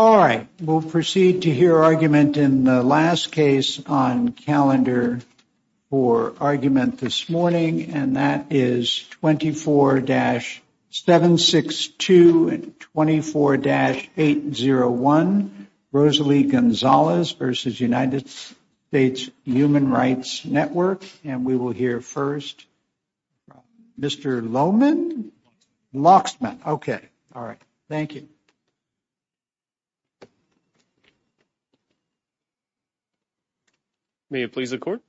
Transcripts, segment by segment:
All right, we'll proceed to hear argument in the last case on calendar for argument And that is 24-762 and 24-801, Rosalie Gonzalez versus United States Human Rights Network. And we will hear first, Mr. Lohman, Lachsman. Okay. All right. Thank you. May it please the court.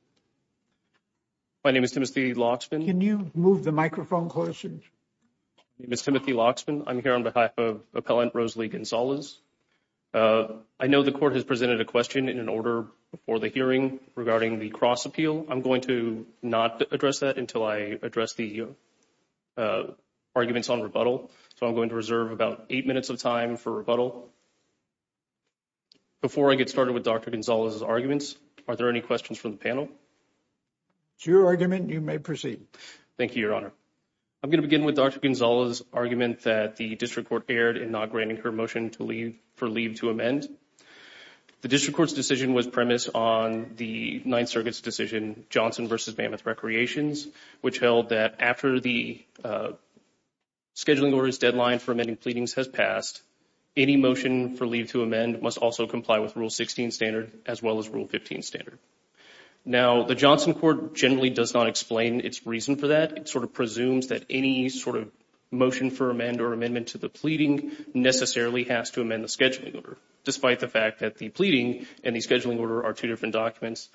My name is Timothy Lachsman. Can you move the microphone closer? Miss Timothy Lachsman, I'm here on behalf of appellant Rosalie Gonzalez. I know the court has presented a question in an order before the hearing regarding the cross appeal. I'm going to not address that until I address the. Arguments on rebuttal, so I'm going to reserve about 8 minutes of time for rebuttal. Before I get started with Dr. Gonzalez's arguments, are there any questions from the panel? It's your argument. You may proceed. Thank you, Your Honor. I'm going to begin with Dr. Gonzalez's argument that the district court erred in not granting her motion to leave for leave to amend. The district court's decision was premised on the Ninth Circuit's decision, Johnson v. Mammoth Recreations, which held that after the scheduling order's deadline for amending pleadings has passed, any motion for leave to amend must also comply with Rule 16 standard as well as Rule 15 standard. Now, the Johnson court generally does not explain its reason for that. It sort of presumes that any sort of motion for amend or amendment to the pleading necessarily has to amend the scheduling order, despite the fact that the pleading and the scheduling order are two different documents.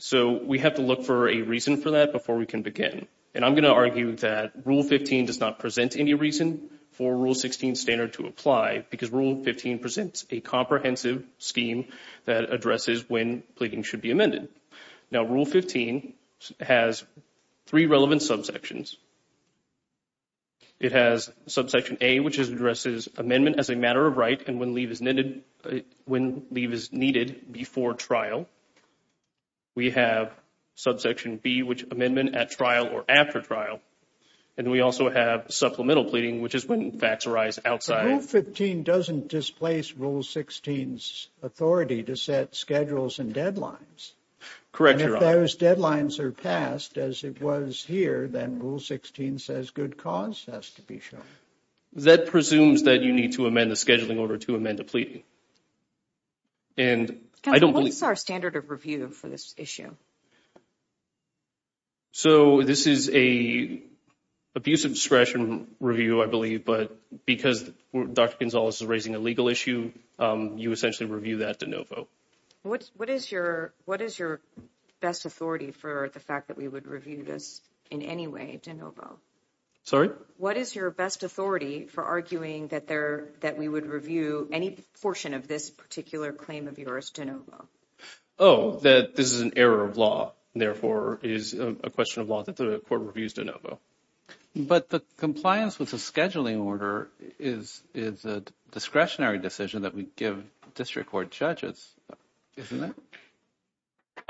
So we have to look for a reason for that before we can begin, and I'm going to argue that Rule 15 does not present any reason for Rule 16 standard to apply because Rule 15 presents a comprehensive scheme that addresses when pleading should be amended. Now, Rule 15 has three relevant subsections. It has subsection A, which addresses amendment as a matter of right and when leave is needed before trial. We have subsection B, which amendment at trial or after trial, and we also have supplemental pleading, which is when facts arise outside. Rule 15 doesn't displace Rule 16's authority to set schedules and deadlines. And if those deadlines are passed as it was here, then Rule 16 says good cause has to be shown. That presumes that you need to amend the scheduling order to amend the pleading. And I don't believe... What's our standard of review for this issue? So this is a abuse of discretion review, I believe, but because Dr. Gonzalez is raising a legal issue, you essentially review that de novo. What is your best authority for the fact that we would review this in any way de novo? Sorry? What is your best authority for arguing that we would review any portion of this particular claim of yours de novo? Oh, that this is an error of law and therefore is a question of law that the court reviews de novo. But the compliance with the scheduling order is a discretionary decision that we give district court judges, isn't it?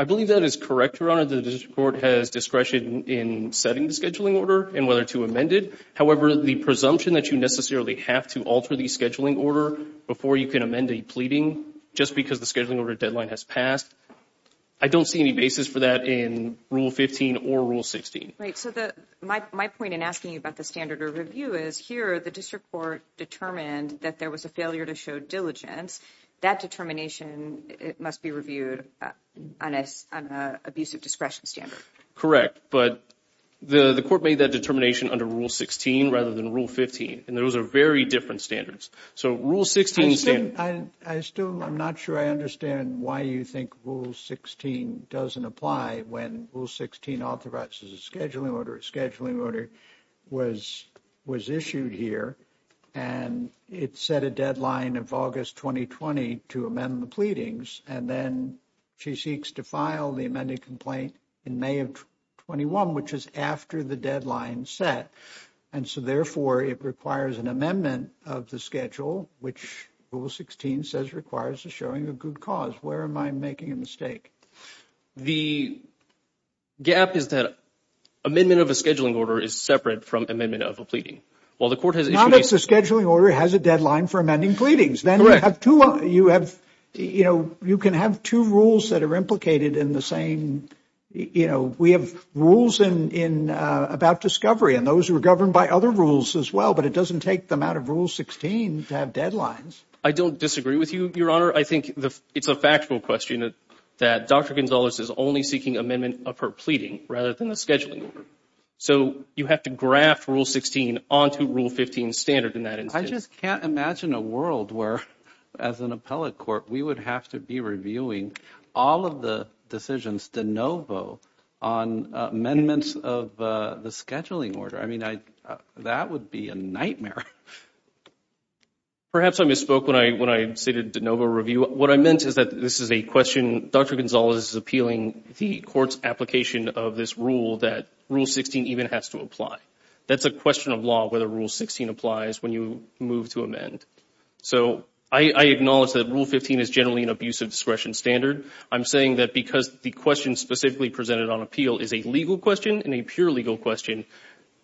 I believe that is correct, Your Honor. The district court has discretion in setting the scheduling order and whether to amend it. However, the presumption that you necessarily have to alter the scheduling order before you can amend a pleading just because the scheduling order deadline has passed, I don't see any basis for that in Rule 15 or Rule 16. Right. So my point in asking you about the standard of review is here the district court determined that there was a failure to show diligence. That determination, it must be reviewed on an abuse of discretion standard. Correct. But the court made that determination under Rule 16 rather than Rule 15. And those are very different standards. So Rule 16... I still, I'm not sure I understand why you think Rule 16 doesn't apply when Rule 16 authorizes a scheduling order. A scheduling order was issued here and it set a deadline of August 2020 to amend the pleadings. And then she seeks to file the amended complaint in May of 21, which is after the deadline set. And so therefore, it requires an amendment of the schedule, which Rule 16 says requires a showing of good cause. Where am I making a mistake? The gap is that amendment of a scheduling order is separate from amendment of a pleading. While the court has issued... Not that the scheduling order has a deadline for amending pleadings. Correct. Then you have, you know, you can have two rules that are implicated in the same, you know, we have rules about discovery and those are governed by other rules as well, but it doesn't take them out of Rule 16 to have deadlines. I don't disagree with you, Your Honor. I think it's a factual question that Dr. Gonzalez is only seeking amendment of her pleading rather than a scheduling order. So you have to graft Rule 16 onto Rule 15 standard in that instance. I just can't imagine a world where, as an appellate court, we would have to be reviewing all of the decisions de novo on amendments of the scheduling order. I mean, that would be a nightmare. Perhaps I misspoke when I stated de novo review. What I meant is that this is a question, Dr. Gonzalez is appealing the court's application of this rule that Rule 16 even has to apply. That's a question of law whether Rule 16 applies when you move to amend. So I acknowledge that Rule 15 is generally an abuse of discretion standard. I'm saying that because the question specifically presented on appeal is a legal question and a pure legal question,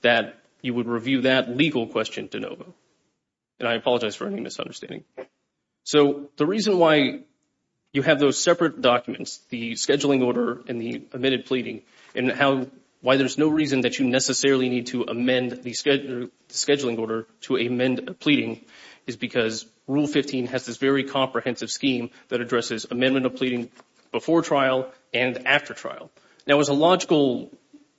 that you would review that legal question de novo. And I apologize for any misunderstanding. So the reason why you have those separate documents, the scheduling order and the amended pleading, and why there's no reason that you necessarily need to amend the scheduling order to amend a pleading is because Rule 15 has this very comprehensive scheme that addresses amendment of pleading before trial and after trial. Now, as a logical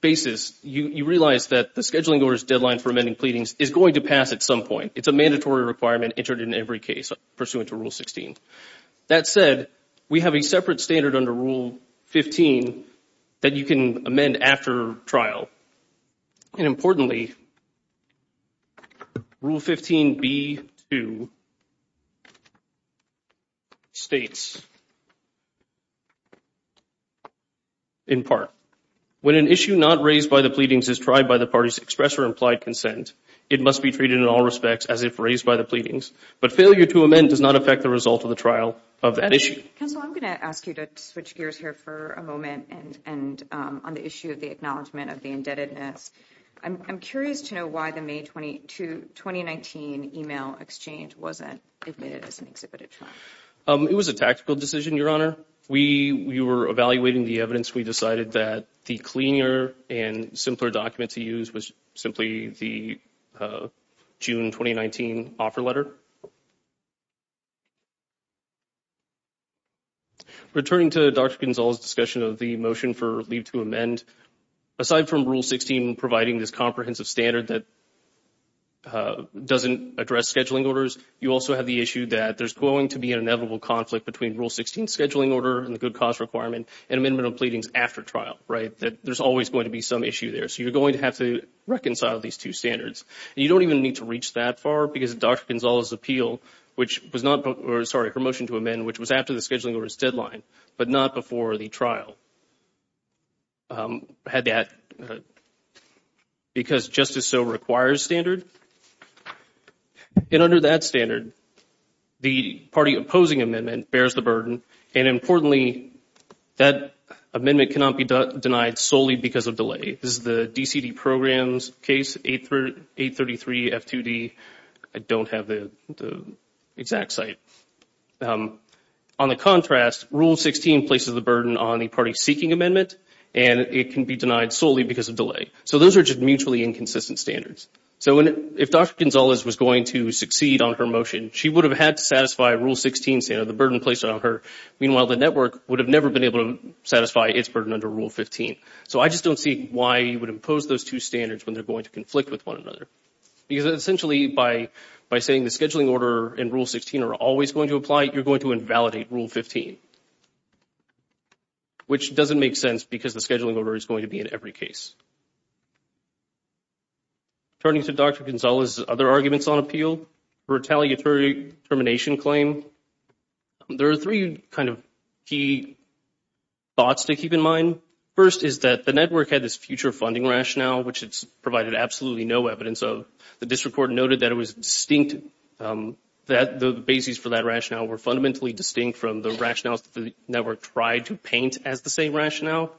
basis, you realize that the scheduling order's deadline for amending pleadings is going to pass at some point. It's a mandatory requirement entered in every case pursuant to Rule 16. That said, we have a separate standard under Rule 15 that you can amend after trial. And importantly, Rule 15b2 states, in part, when an issue not raised by the pleadings is tried by the party's express or implied consent, it must be treated in all respects as if raised by the pleadings. But failure to amend does not affect the result of the trial of that issue. Counsel, I'm going to ask you to switch gears here for a moment and on the issue of the acknowledgment of the indebtedness. I'm curious to know why the May 2019 email exchange wasn't admitted as an exhibited file. It was a tactical decision, Your Honor. We were evaluating the evidence. We decided that the cleaner and simpler document to use was simply the June 2019 offer letter. Returning to Dr. Gonzales' discussion of the motion for leave to amend, aside from Rule 16 providing this comprehensive standard that doesn't address scheduling orders, you also have the issue that there's going to be an inevitable conflict between Rule 16's scheduling order and the good cause requirement and amendment of pleadings after trial, right, that there's always going to be some issue there. So you're going to have to reconcile these two standards. You don't even need to reach that far because of Dr. Gonzales' appeal, which was not, sorry, her motion to amend, which was after the scheduling order's deadline, but not before the trial. Had that because justice so requires standard. And under that standard, the party opposing amendment bears the burden. And importantly, that amendment cannot be denied solely because of delay. This is the DCD program's case, 833 F2D. I don't have the exact site. On the contrast, Rule 16 places the burden on the party seeking amendment, and it can be denied solely because of delay. So those are just mutually inconsistent standards. So if Dr. Gonzales was going to succeed on her motion, she would have had to satisfy Rule 16, the burden placed on her. Meanwhile, the network would have never been able to satisfy its burden under Rule 15. So I just don't see why you would impose those two standards when they're going to conflict with one another. Because essentially, by saying the scheduling order and Rule 16 are always going to apply, you're going to invalidate Rule 15, which doesn't make sense because the scheduling order is going to be in every case. Turning to Dr. Gonzales' other arguments on appeal, her retaliatory termination claim, there are three kind of key thoughts to keep in mind. First is that the network had this future funding rationale, which it's provided absolutely no evidence of. The district court noted that it was distinct, that the basis for that rationale were fundamentally distinct from the rationales that the network tried to paint as the same rationale.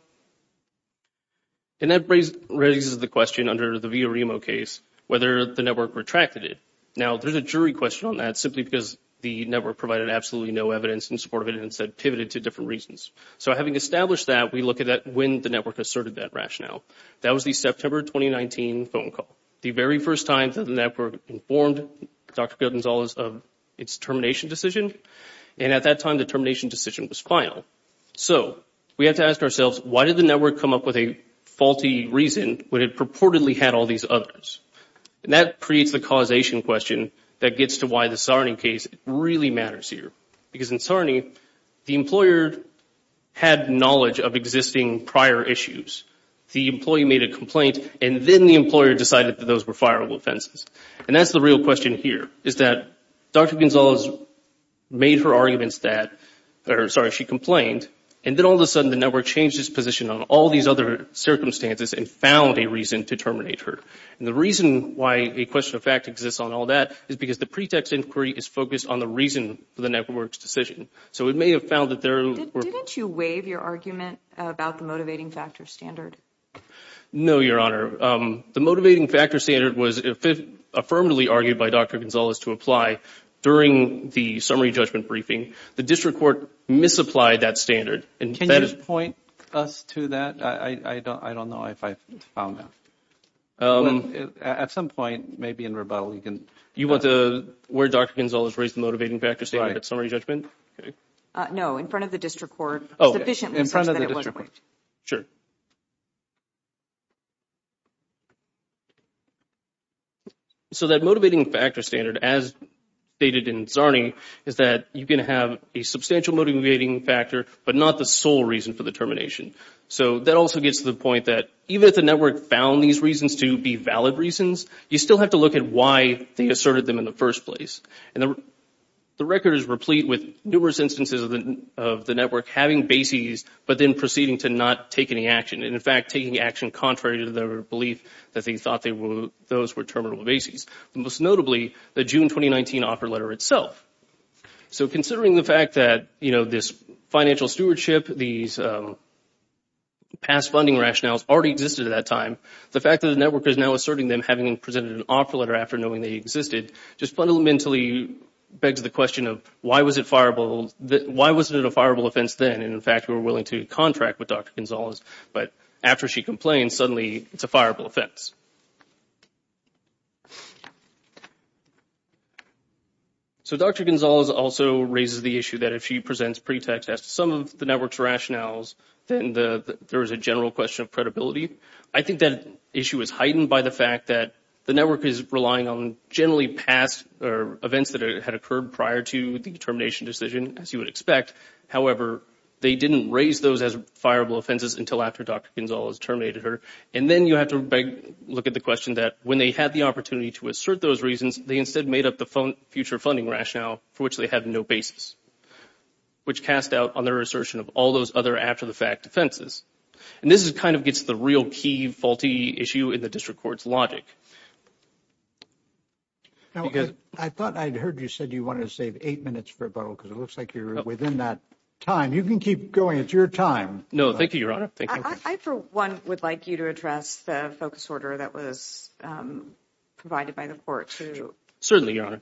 And that raises the question under the Villaremo case, whether the network retracted it. Now, there's a jury question on that simply because the network provided absolutely no evidence in support of it and said pivoted to different reasons. So having established that, we look at that when the network asserted that rationale. That was the September 2019 phone call. The very first time that the network informed Dr. Gonzales of its termination decision. And at that time, the termination decision was final. So we have to ask ourselves, why did the network come up with a faulty reason when it purportedly had all these others? And that creates the causation question that gets to why the Sarney case really matters here. Because in Sarney, the employer had knowledge of existing prior issues. The employee made a those were fireable offenses. And that's the real question here, is that Dr. Gonzales made her arguments that, or sorry, she complained. And then all of a sudden, the network changed its position on all these other circumstances and found a reason to terminate her. And the reason why a question of fact exists on all that is because the pretext inquiry is focused on the reason for the network's decision. So it may have found that there were... Didn't you waive your argument about the motivating factor standard? No, Your Honor. The motivating factor standard was affirmatively argued by Dr. Gonzales to apply during the summary judgment briefing. The district court misapplied that standard. Can you just point us to that? I don't know if I found that. At some point, maybe in rebuttal, you can... You want to where Dr. Gonzales raised the motivating factor standard at summary judgment? No, in front of the district court. Oh, in front of the district court. Sure. So that motivating factor standard, as stated in Czarny, is that you can have a substantial motivating factor, but not the sole reason for the termination. So that also gets to the point that even if the network found these reasons to be valid reasons, you still have to look at why they asserted them in the first place. And the record is replete with numerous instances of the having bases, but then proceeding to not take any action. And in fact, taking action contrary to their belief that they thought those were terminable bases. Most notably, the June 2019 offer letter itself. So considering the fact that this financial stewardship, these past funding rationales already existed at that time, the fact that the network is now asserting them having presented an offer letter after knowing they existed just fundamentally begs the question of why was it a fireable offense then? And in fact, we were willing to contract with Dr. Gonzales, but after she complained, suddenly it's a fireable offense. So Dr. Gonzales also raises the issue that if she presents pretext as to some of the network's rationales, then there is a general question of credibility. I think that issue is heightened by the fact that the network is relying on generally past events that had occurred prior to the termination decision, as you would expect. However, they didn't raise those as fireable offenses until after Dr. Gonzales terminated her. And then you have to look at the question that when they had the opportunity to assert those reasons, they instead made up the future funding rationale for which they had no bases, which cast doubt on their assertion of all those other after-the-fact offenses. And this is kind of gets the real key faulty issue in the district court's logic. Now, I thought I'd heard you said you wanted to save eight minutes for a bottle because it looks like you're within that time. You can keep going. It's your time. No, thank you, Your Honor. I, for one, would like you to address the focus order that was provided by the court. Certainly, Your Honor.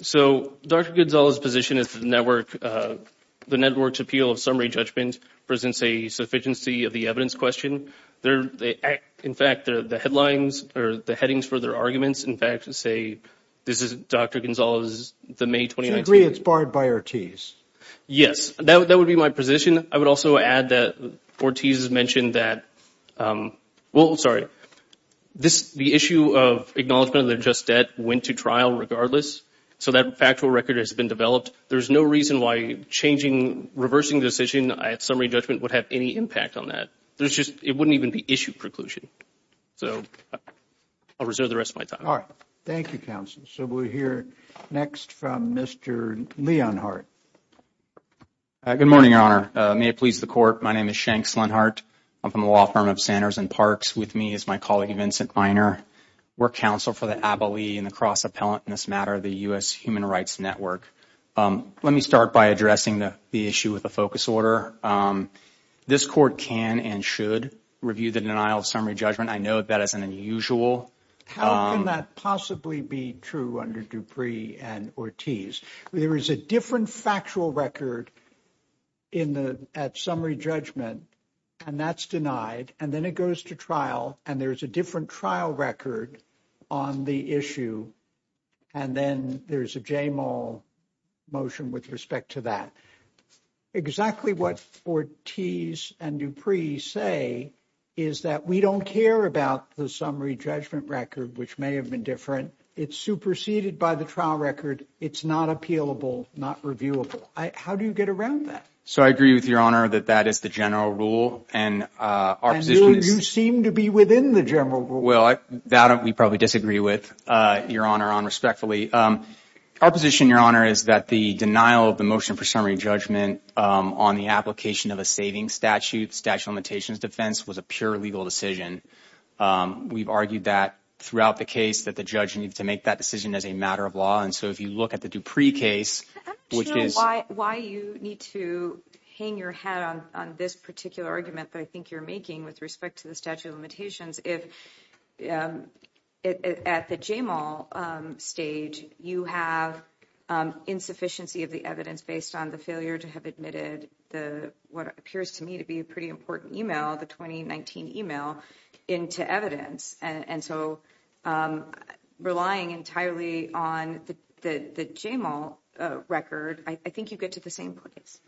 So, Dr. Gonzales' position is that the network's appeal of summary judgment presents a sufficiency of the evidence question. In fact, the headlines or the headings for their arguments, in fact, say this is Dr. Gonzales, the May 2019. Do you agree it's barred by Ortiz? Yes, that would be my position. I would also add that Ortiz has mentioned that, well, sorry, the issue of acknowledgment of their just debt went to trial regardless. So, that factual record has been developed. There's no reason why changing, reversing the decision at summary judgment would have any impact on that. There's just, it wouldn't even be issue preclusion. So, I'll reserve the rest of my time. All right. Thank you, counsel. So, we'll hear next from Mr. Leonhardt. Good morning, Your Honor. May it please the court, my name is Shanks Leonhardt. I'm from the law firm of Sanders and Parks. With me is my colleague, Vincent Miner. We're counsel for the Abilene and the Cross Appellant in this matter, the U.S. Human Rights Network. Let me start by addressing the issue with a focus order. This court can and should review the denial of summary judgment. I note that as an unusual. How can that possibly be true under Dupree and Ortiz? There is a different factual record in the, at summary judgment, and that's denied. And then it goes to trial, and there's a different trial record on the issue. And then there's a JMO motion with respect to that. Exactly what Ortiz and Dupree say is that we don't care about the summary judgment record, which may have been different. It's superseded by the trial record. It's not appealable, not reviewable. How do you get around that? So I agree with Your Honor that that is the general rule. And you seem to be within the general rule. Well, we probably disagree with Your Honor on respectfully. Our position, Your Honor, is that the denial of the motion for summary judgment on the application of a savings statute, statute of limitations defense, was a pure legal decision. We've argued that throughout the case that the judge needs to make that decision as a matter of law. And so if you look at the Dupree case, which is... I'm not sure why you need to hang your hat on this particular argument that I think you're making with respect to the statute of limitations. If at the JMO stage, you have insufficiency of the evidence based on the failure to have admitted the, what appears to me to be a pretty important email, the 2019 email into evidence. And so relying entirely on the JMO record, I think you get to the same place.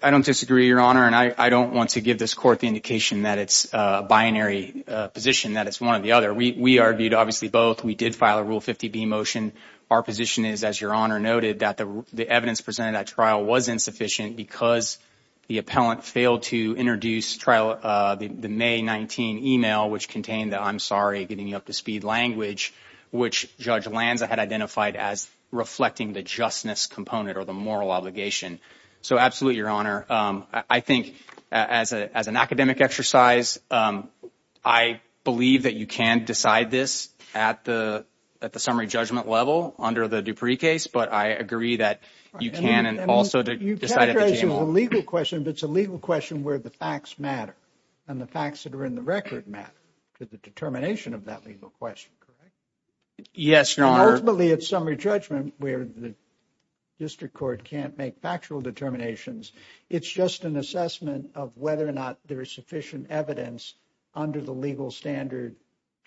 I don't disagree, Your Honor. And I don't want to give this court the indication that it's a binary position, that it's one or the other. We argued obviously both. We did file a Rule 50b motion. Our position is, as Your Honor noted, that the evidence presented at trial was insufficient because the appellant failed to introduce the May 19 email, which contained the, I'm sorry, getting you up to speed language, which Judge Lanza had identified as reflecting the justness component or the moral obligation. So absolutely, Your Honor. I think as an academic exercise, I believe that you can decide this at the summary judgment level under the Dupree case, but I agree that you can also decide at the JMO. You characterize it as a legal question, but it's a legal question where the facts matter and the facts that are in the record matter to the determination of that legal question, correct? Yes, Your Honor. Ultimately, it's summary judgment where the district court can't make factual determinations. It's just an assessment of whether or not there is sufficient evidence under the legal standard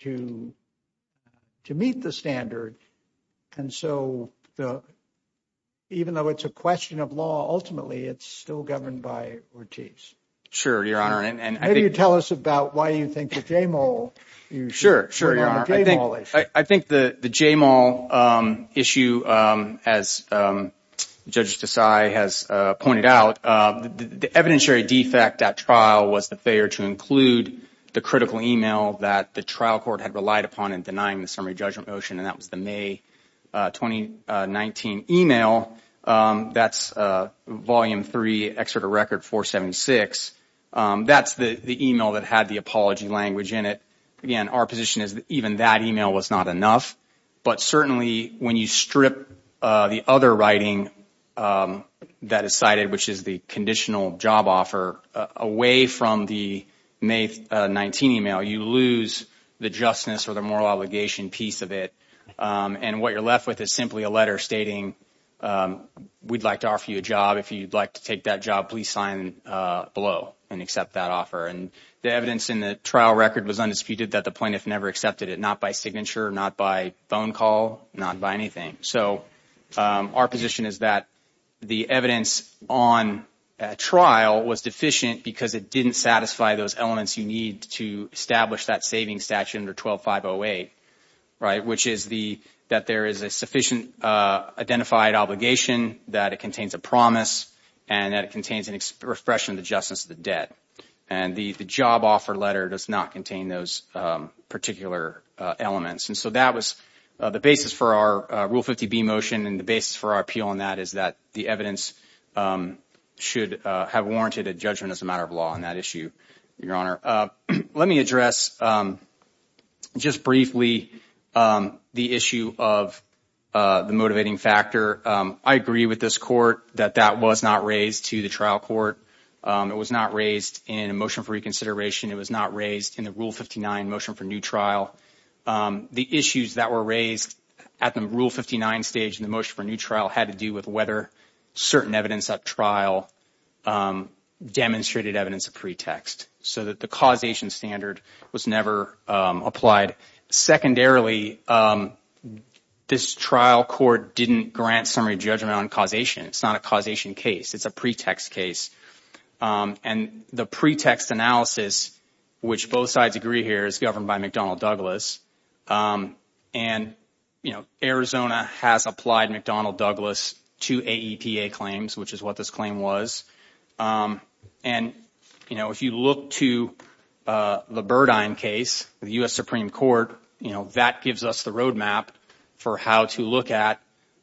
to meet the standard. And so even though it's a question of law, ultimately, it's still governed by Ortiz. Sure, Your Honor. And maybe you tell us about why you think the JMO. Sure, sure. I think the JMO issue, as Judge Desai has pointed out, the evidentiary defect at trial was the failure to include the critical email that the trial court had relied upon in denying the summary judgment motion, and that was the May 2019 email. That's Volume 3, Excerpt of Record 476. That's the email that had the apology language in it. Again, our position is that even that email was not enough, but certainly when you strip the other writing that is cited, which is the conditional job offer, away from the May 19 email, you lose the justice or the execution piece of it. And what you're left with is simply a letter stating, we'd like to offer you a job. If you'd like to take that job, please sign below and accept that offer. And the evidence in the trial record was undisputed that the plaintiff never accepted it, not by signature, not by phone call, not by anything. So our position is that the evidence on trial was deficient because it didn't satisfy those elements you need to establish that savings statute under 12-508, which is that there is a sufficient identified obligation, that it contains a promise, and that it contains an expression of the justice of the debt. And the job offer letter does not contain those particular elements. And so that was the basis for our Rule 50B motion, and the basis for our appeal on that is that the evidence should have warranted a judgment as a matter of law on that issue, Your Honor. Let me address just briefly the issue of the motivating factor. I agree with this court that that was not raised to the trial court. It was not raised in a motion for reconsideration. It was not raised in the Rule 59 motion for new trial. The issues that were raised at the Rule 59 stage in the motion for new trial had to do with whether certain evidence at trial demonstrated evidence of pretext, so that the causation standard was never applied. Secondarily, this trial court didn't grant summary judgment on causation. It's not a causation case. It's a pretext case. And the pretext analysis, which both sides agree here, is governed by McDonnell Douglas. And, you know, Arizona has applied McDonnell Douglas to AEPA claims, which is what this claim was. And, you know, if you look to the Burdine case, the U.S. Supreme Court, you know, that gives us the roadmap for how to look at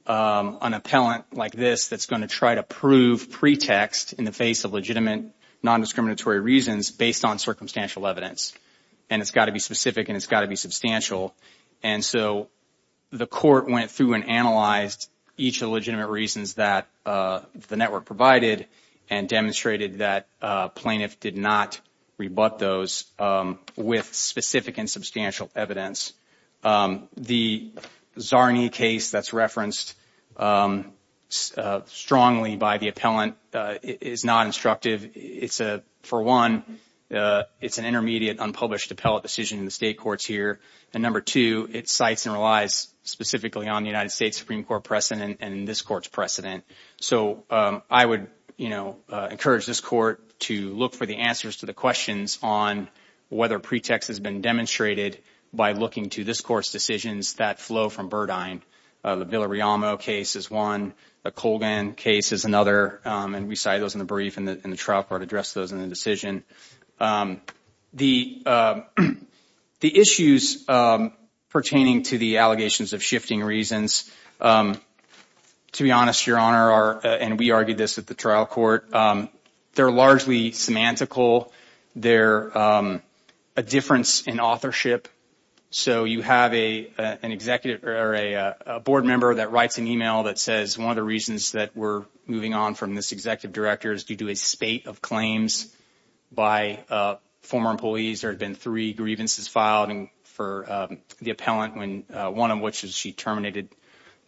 an appellant like this that's going to try to prove pretext in the face of legitimate nondiscriminatory reasons based on circumstantial evidence. And it's got to be specific and it's got to be substantial. And so the court went through and analyzed each of the legitimate reasons that the network provided and demonstrated that plaintiff did not rebut those with specific and substantial evidence. The Czarny case that's referenced strongly by the appellant is not instructive. It's a, for one, it's an intermediate unpublished appellate decision in the state courts here. And number two, it cites and relies specifically on the United States Supreme Court precedent and this court's precedent. So I would, you know, encourage this court to look for the answers to the questions on whether pretext has been demonstrated by looking to this court's decisions that flow from Burdine. The Villarrealmo case is one. The Colgan case is another. And we cite those in the trial court, address those in the decision. The issues pertaining to the allegations of shifting reasons, to be honest, Your Honor, and we argued this at the trial court, they're largely semantical. They're a difference in authorship. So you have an executive or a board member that writes an email that says one of the reasons that we're moving on from this executive director is due to a spate of claims by former employees. There had been three grievances filed for the appellant, one of which is she terminated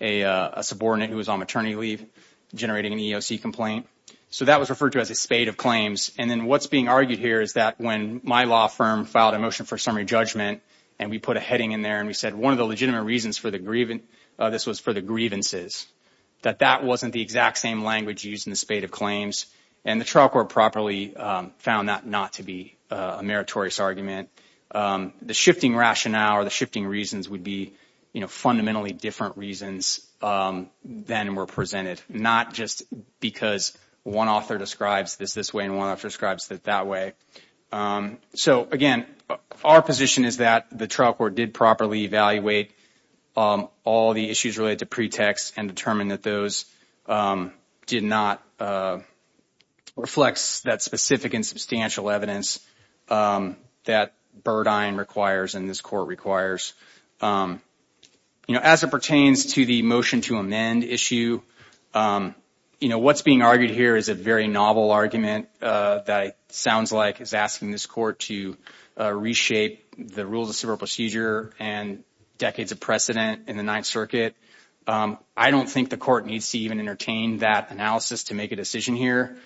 a subordinate who was on maternity leave generating an EEOC complaint. So that was referred to as a spate of claims. And then what's being argued here is that when my law firm filed a motion for summary judgment and we put a heading in there and we said one of the legitimate reasons for the grievance, this was for the grievances, that that wasn't the exact same language used in the spate of claims. And the trial court properly found that not to be a meritorious argument. The shifting rationale or the shifting reasons would be fundamentally different reasons than were presented, not just because one author describes this this way and one author describes it that way. So again, our position is that the trial court did properly evaluate all the issues related to pretext and determine that those did not reflect that specific and substantial evidence that Burdine requires and this court requires. You know, as it pertains to the motion to amend issue, you know, what's being argued here is a very novel argument that sounds like is asking this court to reshape the rules of civil procedure and decades of precedent in the Ninth Circuit. I don't think the court needs to even entertain that analysis to make a decision here.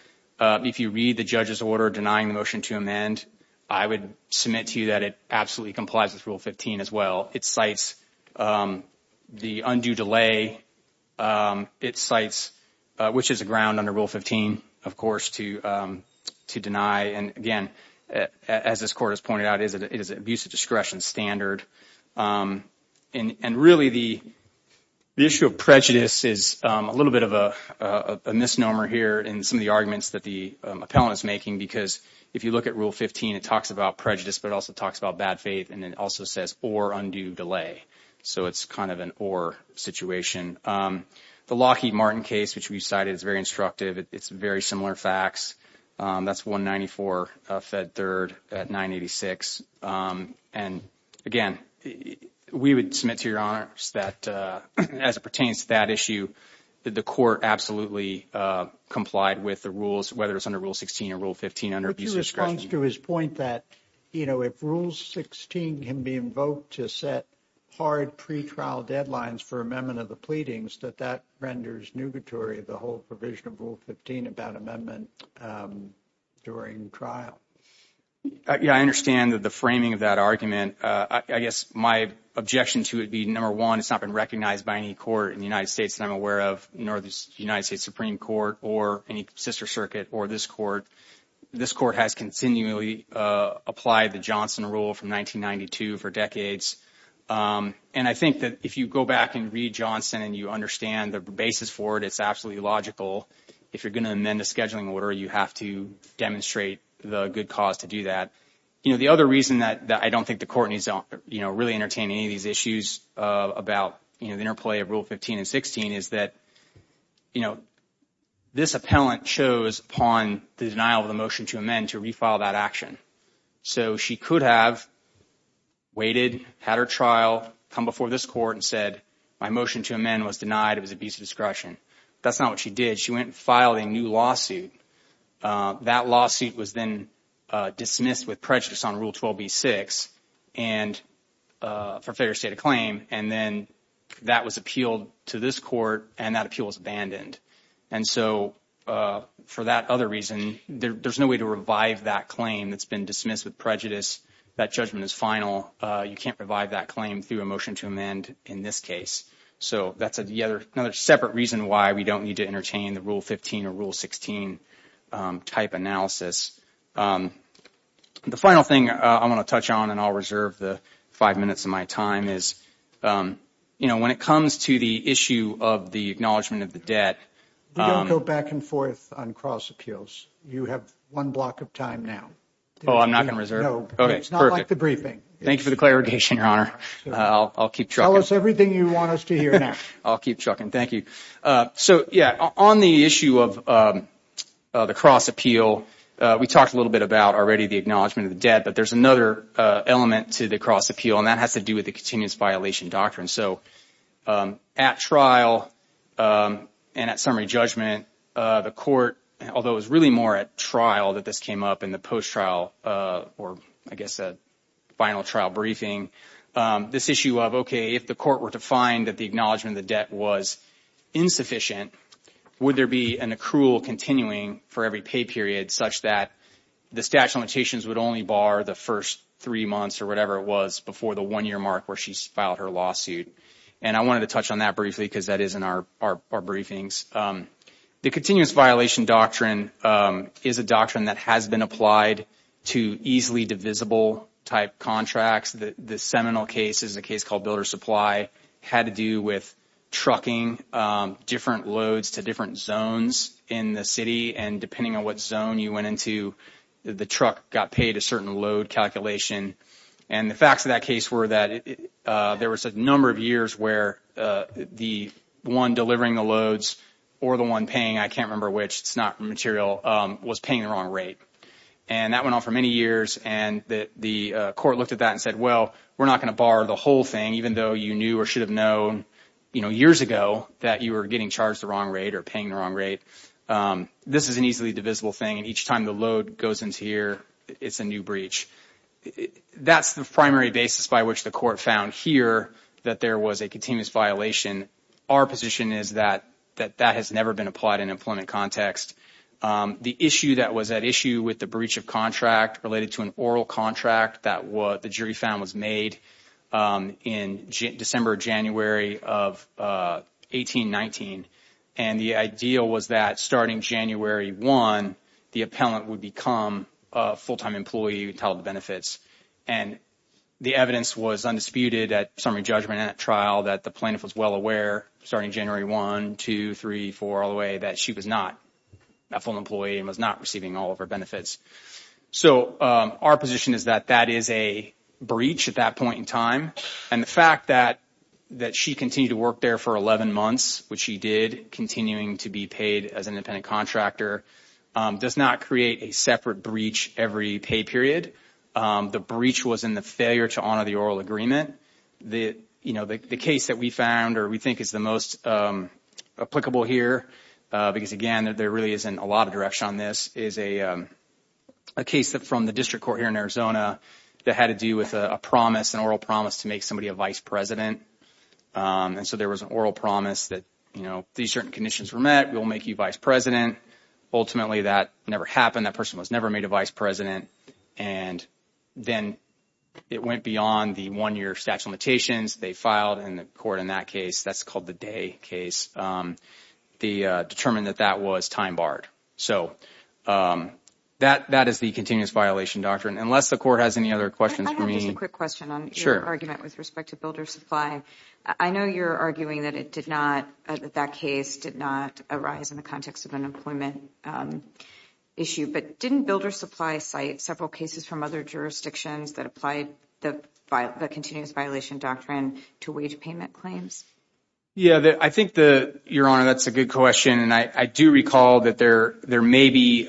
If you read the judge's order denying the motion to amend, I would submit to you that it absolutely complies with Rule 15 as well. It cites the undue delay. It cites, which is a ground under Rule 15, of course, to deny. And again, as this court has it is an abuse of discretion standard. And really, the issue of prejudice is a little bit of a misnomer here in some of the arguments that the appellant is making, because if you look at Rule 15, it talks about prejudice, but it also talks about bad faith, and it also says or undue delay. So it's kind of an or situation. The Lockheed Martin case, which we've cited, is very instructive. It's very similar facts. That's 194 Fed Third at 986. And again, we would submit to your honors that as it pertains to that issue, that the court absolutely complied with the rules, whether it's under Rule 16 or Rule 15 under abuse of discretion. But your response to his point that, you know, if Rule 16 can be invoked to set hard pre-trial deadlines for amendment of the pleadings, that that renders nugatory the whole provision of Rule 15 about amendment during trial. Yeah, I understand that the framing of that argument, I guess my objection to it being number one, it's not been recognized by any court in the United States that I'm aware of, nor the United States Supreme Court or any sister circuit or this court. This court has continually applied the Johnson rule from 1992 for decades. And I think that if you go back and read Johnson and you understand the basis for it, it's absolutely logical. If you're going to amend the scheduling order, you have to demonstrate the good cause to do that. You know, the other reason that I don't think the court needs to really entertain any of these issues about the interplay of Rule 15 and 16 is that, you know, this appellant chose upon the denial of the motion to amend to refile that action. So she could have waited, her trial, come before this court and said, my motion to amend was denied. It was abuse of discretion. That's not what she did. She went and filed a new lawsuit. That lawsuit was then dismissed with prejudice on Rule 12b-6 and for failure to state a claim. And then that was appealed to this court and that appeal was abandoned. And so for that other reason, there's no way to revive that claim that's been dismissed with prejudice. That judgment is final. You can't revive that claim through a motion to amend in this case. So that's another separate reason why we don't need to entertain the Rule 15 or Rule 16 type analysis. The final thing I want to touch on and I'll reserve the five minutes of my time is, you know, when it comes to the issue of the acknowledgment of the debt. We don't go back and forth on cross appeals. You have one block of time now. Oh, I'm not going to reserve? No. Okay. It's not like the briefing. Thank you for the clarification, Your Honor. I'll keep trucking. Tell us everything you want us to hear now. I'll keep trucking. Thank you. So, yeah, on the issue of the cross appeal, we talked a little bit about already the acknowledgment of the debt, but there's another element to the cross appeal and that has to do with the continuous violation doctrine. So at trial and at summary judgment, the court, although it was really more at trial that this came up in the post-trial or, I guess, a final trial briefing, this issue of, okay, if the court were to find that the acknowledgment of the debt was insufficient, would there be an accrual continuing for every pay period such that the statute of limitations would only bar the first three months or whatever it was before the one-year mark where she's filed her lawsuit? And I wanted to touch on that briefly because that is our briefings. The continuous violation doctrine is a doctrine that has been applied to easily divisible-type contracts. The seminal case is a case called builder supply. It had to do with trucking different loads to different zones in the city, and depending on what zone you went into, the truck got paid a certain load calculation. And the facts of that case were that there was a number of years where the one delivering the loads or the one paying, I can't remember which, it's not material, was paying the wrong rate. And that went on for many years, and the court looked at that and said, well, we're not going to bar the whole thing, even though you knew or should have known, you know, years ago that you were getting charged the wrong rate or paying the wrong rate. This is an easily divisible thing, and each time the load goes into here, it's a new breach. That's the primary basis by which the court found here that there was a continuous violation. Our position is that that has never been applied in employment context. The issue that was at issue with the breach of contract related to an oral contract that the jury found was made in December or January of 1819, and the idea was that starting January 1, the appellant would become a full-time employee with all the benefits. And the evidence was undisputed at summary judgment at trial that the plaintiff was well aware, starting January 1, 2, 3, 4, all the way, that she was not a full employee and was not receiving all of her benefits. So our position is that that is a breach at that point in time. And the fact that she continued to work there for 11 months, which she did, continuing to be paid as an independent contractor, does not create a separate breach every pay period. The breach was in the failure to honor the oral agreement. The case that we found or we think is the most applicable here, because again, there really isn't a lot of direction on this, is a case from the district court here in Arizona that had to do with an oral promise to make somebody a vice president. And so there was an oral promise that, you know, these certain conditions were met, we'll make you vice president. Ultimately, that never happened. That person was never made a vice president. And then it went beyond the one-year statute of limitations. They filed in the court in that case. That's called the day case. They determined that that was time barred. So that is the continuous violation doctrine. Unless the court has any other questions for me. I have just a quick question on your argument with respect to builder supply. I know you're arguing that it did not, that case did not arise in the context of an employment issue, but didn't builder supply cite several cases from other jurisdictions that applied the continuous violation doctrine to wage payment claims? Yeah, I think that, Your Honor, that's a good question. And I do recall that there may be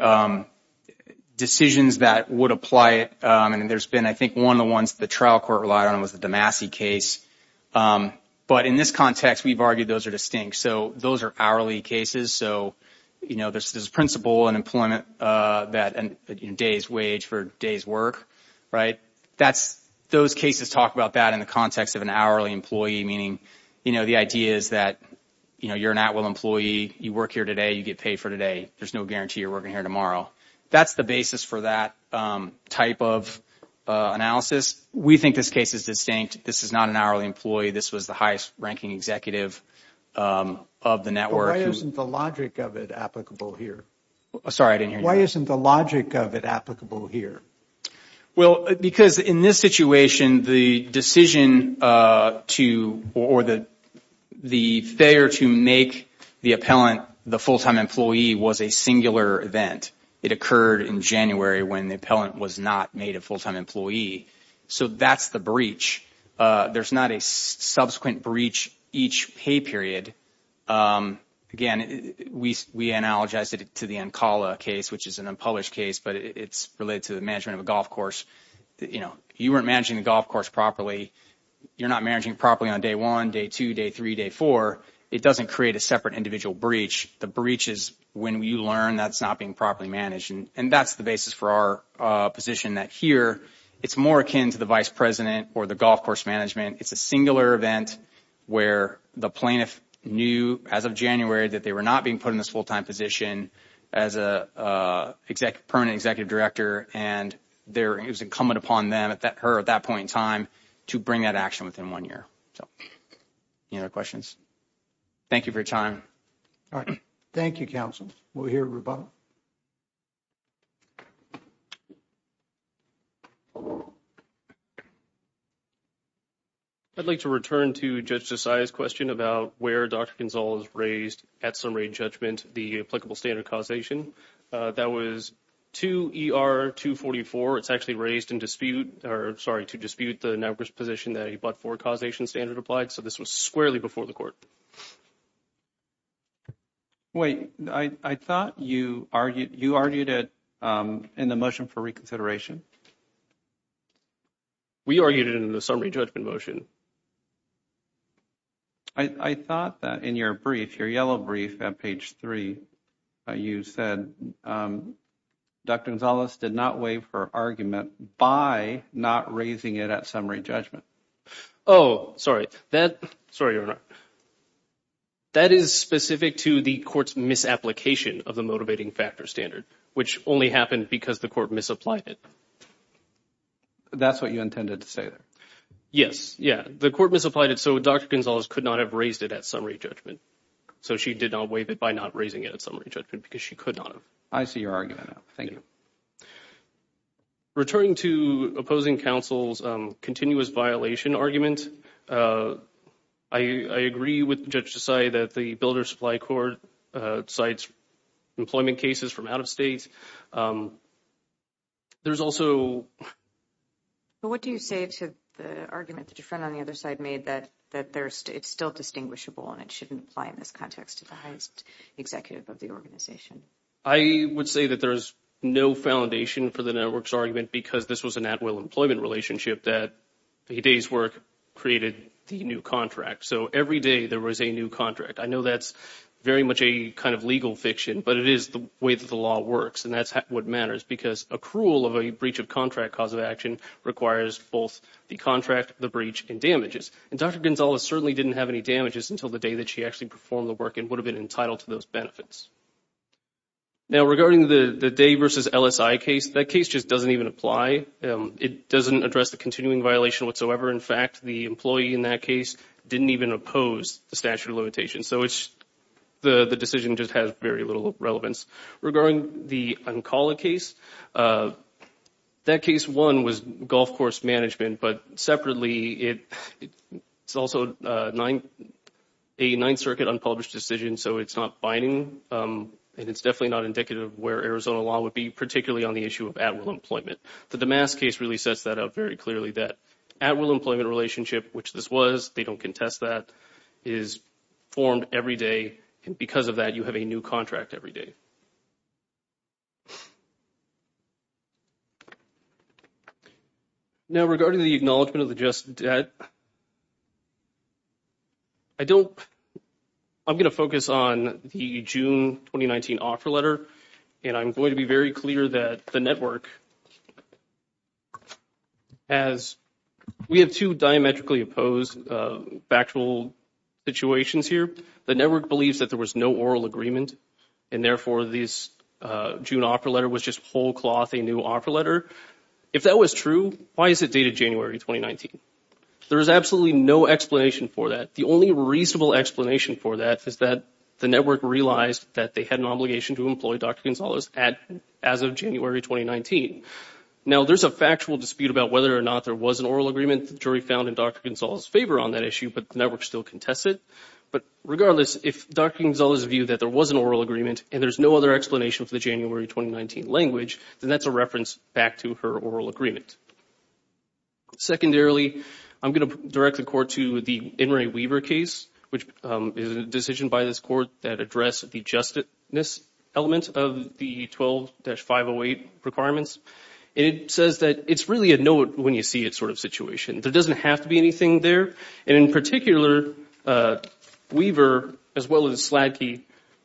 decisions that would apply. And there's been, I think, one of the ones the trial court relied on was the Damacy case. But in this context, we've argued those are distinct. So those are hourly cases. So, you know, there's this principle in employment that days wage for days work, right? That's, those cases talk about that in the context of an hourly employee, meaning, you know, the idea is that, you know, you're an at-will employee, you work here today, you get paid for today. There's no guarantee you're working here tomorrow. That's the basis for that type of analysis. We think this case is distinct. This is not an hourly employee. This was the highest-ranking executive of the network. Why isn't the logic of it applicable here? Sorry, I didn't hear you. Why isn't the logic of it applicable here? Well, because in this situation, the decision to, or the failure to make the appellant the full-time employee was a singular event. It occurred in January when the appellant was not made a full-time employee. So that's the breach. There's not a subsequent breach each pay period. Again, we analogized it to the Ancala case, which is an unpublished case, but it's related to the management of a golf course. You know, you weren't managing the golf course properly. You're not managing it properly on day one, day two, day three, day four. It doesn't create a separate individual breach. The breach is when you learn that's not being properly managed, and that's the basis for our position that here it's more akin to the vice president or the golf course management. It's a singular event where the plaintiff knew as of January that they were not being put in this full-time position as a permanent executive director, and it was incumbent upon her at that point in time to bring that action within one year. So any other questions? Thank you for your time. All right. Thank you, counsel. We'll hear from Roboto. I'd like to return to Judge Desai's question about where Dr. Gonzales raised at some rate judgment the applicable standard causation. That was 2ER244. It's actually raised in dispute, or sorry, to dispute the numbers position that he bought for causation standard applied. So this was squarely before the court. Wait, I thought you argued, you argued it in the motion for reconsideration. We argued it in the summary judgment motion. I thought that in your brief, your yellow brief at page 3, you said Dr. Gonzales did not waive her argument by not raising it at summary judgment. Oh, sorry. That, sorry, Your Honor. That is specific to the court's misapplication of the motivating factor standard, which only happened because the court misapplied it. That's what you intended to say there? Yes. Yeah. The court misapplied it, so Dr. Gonzales could not have raised it at summary judgment. She did not waive it by not raising it at summary judgment because she could not have. I see your argument. Thank you. Returning to opposing counsel's continuous violation argument, I agree with Judge Desai that the Builder Supply Court cites employment cases from out of state. There's also... But what do you say to the argument that your friend on the other side made that it's still distinguishable and it shouldn't apply in this context to the highest executive of the organization? I would say that there's no foundation for the network's argument because this was an at-will employment relationship that a day's work created the new contract. So every day there was a new contract. I know that's very much a kind of legal fiction, but it is the way that the law works. And that's what matters because accrual of a breach of contract cause requires both the contract, the breach, and damages. And Dr. Gonzales certainly didn't have any damages until the day that she actually performed the work and would have been entitled to those benefits. Now, regarding the Day v. LSI case, that case just doesn't even apply. It doesn't address the continuing violation whatsoever. In fact, the employee in that case didn't even oppose the statute of limitations. So the decision just has very little relevance. Regarding the Ancala case, that case, one, was golf course management. But separately, it's also a Ninth Circuit unpublished decision, so it's not binding. And it's definitely not indicative of where Arizona law would be, particularly on the issue of at-will employment. The Damascus case really sets that up very clearly, that at-will employment relationship, which this was, they don't contest that, is formed every day. And because of that, you have a new contract every day. Now, regarding the acknowledgment of the just debt, I don't, I'm going to focus on the June 2019 offer letter. And I'm going to be very clear that the network has, we have two diametrically opposed factual situations here. The network believes that there was no oral agreement, and therefore this June offer letter was just whole cloth, a new offer letter. If that was true, why is it dated January 2019? There is absolutely no explanation for that. The only reasonable explanation for that is that the network realized that they had an obligation to employ Dr. Gonzalez as of January 2019. Now, there's a factual dispute about whether or not there was an oral agreement that the jury found in Dr. Gonzalez's favor on that issue, but the network still contested. But regardless, if Dr. Gonzalez's view that there was an oral agreement and there's no other explanation for the January 2019 language, then that's a reference back to her oral agreement. Secondarily, I'm going to direct the Court to the In re Weaver case, which is a decision by this Court that addressed the justness element of the 12-508 requirements. And it says that it's really a know it when you see it sort of situation. There doesn't have to be anything there. And in particular, Weaver, as well as Sladke,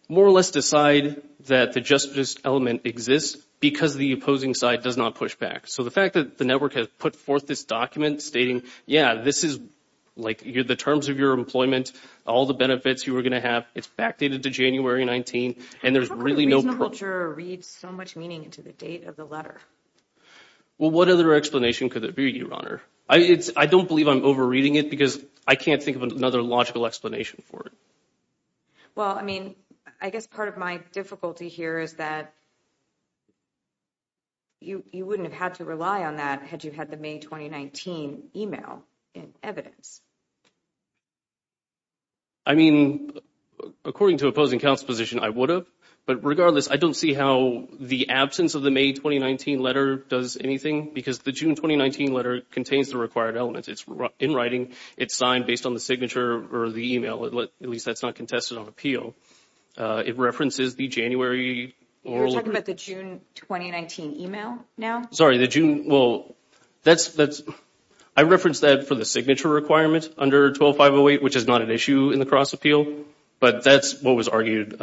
more or less decide that the justness element exists because the opposing side does not push back. So the fact that the network has put forth this document stating, yeah, this is like the terms of your employment, all the benefits you are going to have, it's backdated to January 19. And there's really no reasonable juror reads so much meaning into the date of the letter. Well, what other explanation could there be, Your Honor? I don't believe I'm overreading it because I can't think of another logical explanation for it. Well, I mean, I guess part of my difficulty here is that you wouldn't have had to rely on that had you had the May 2019 email in evidence. I mean, according to opposing counsel's position, I would have. But regardless, I don't see how the absence of the May 2019 letter does anything because the June 2019 letter contains the required elements. It's in writing. It's signed based on the signature or the email. At least that's not contested on appeal. It references the January. You're talking about the June 2019 email now? Sorry, the June. Well, that's that's I referenced that for the signature requirement under 12508, which is not an issue in the cross appeal. But that's what was argued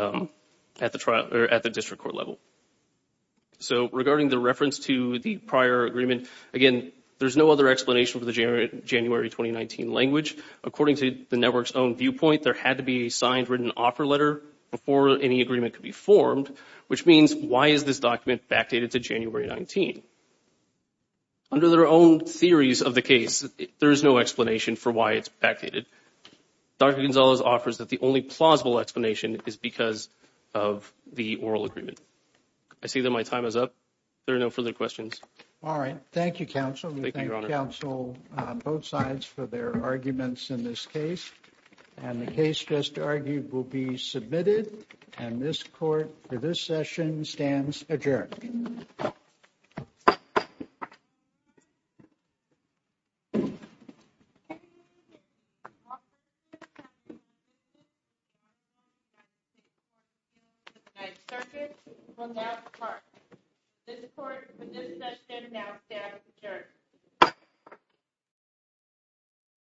at the trial or at the trial. So regarding the reference to the prior agreement, again, there's no other explanation for the January 2019 language. According to the network's own viewpoint, there had to be a signed written offer letter before any agreement could be formed, which means why is this document backdated to January 19? Under their own theories of the case, there is no explanation for why it's backdated. Dr. Gonzalez offers that the only plausible explanation is because of the oral agreement. I see that my time is up. There are no further questions. All right. Thank you, counsel. Thank you, counsel. Both sides for their arguments in this case and the case just argued will be submitted. And this court for this session stands adjourned. Well, now the court for this session now stands adjourned.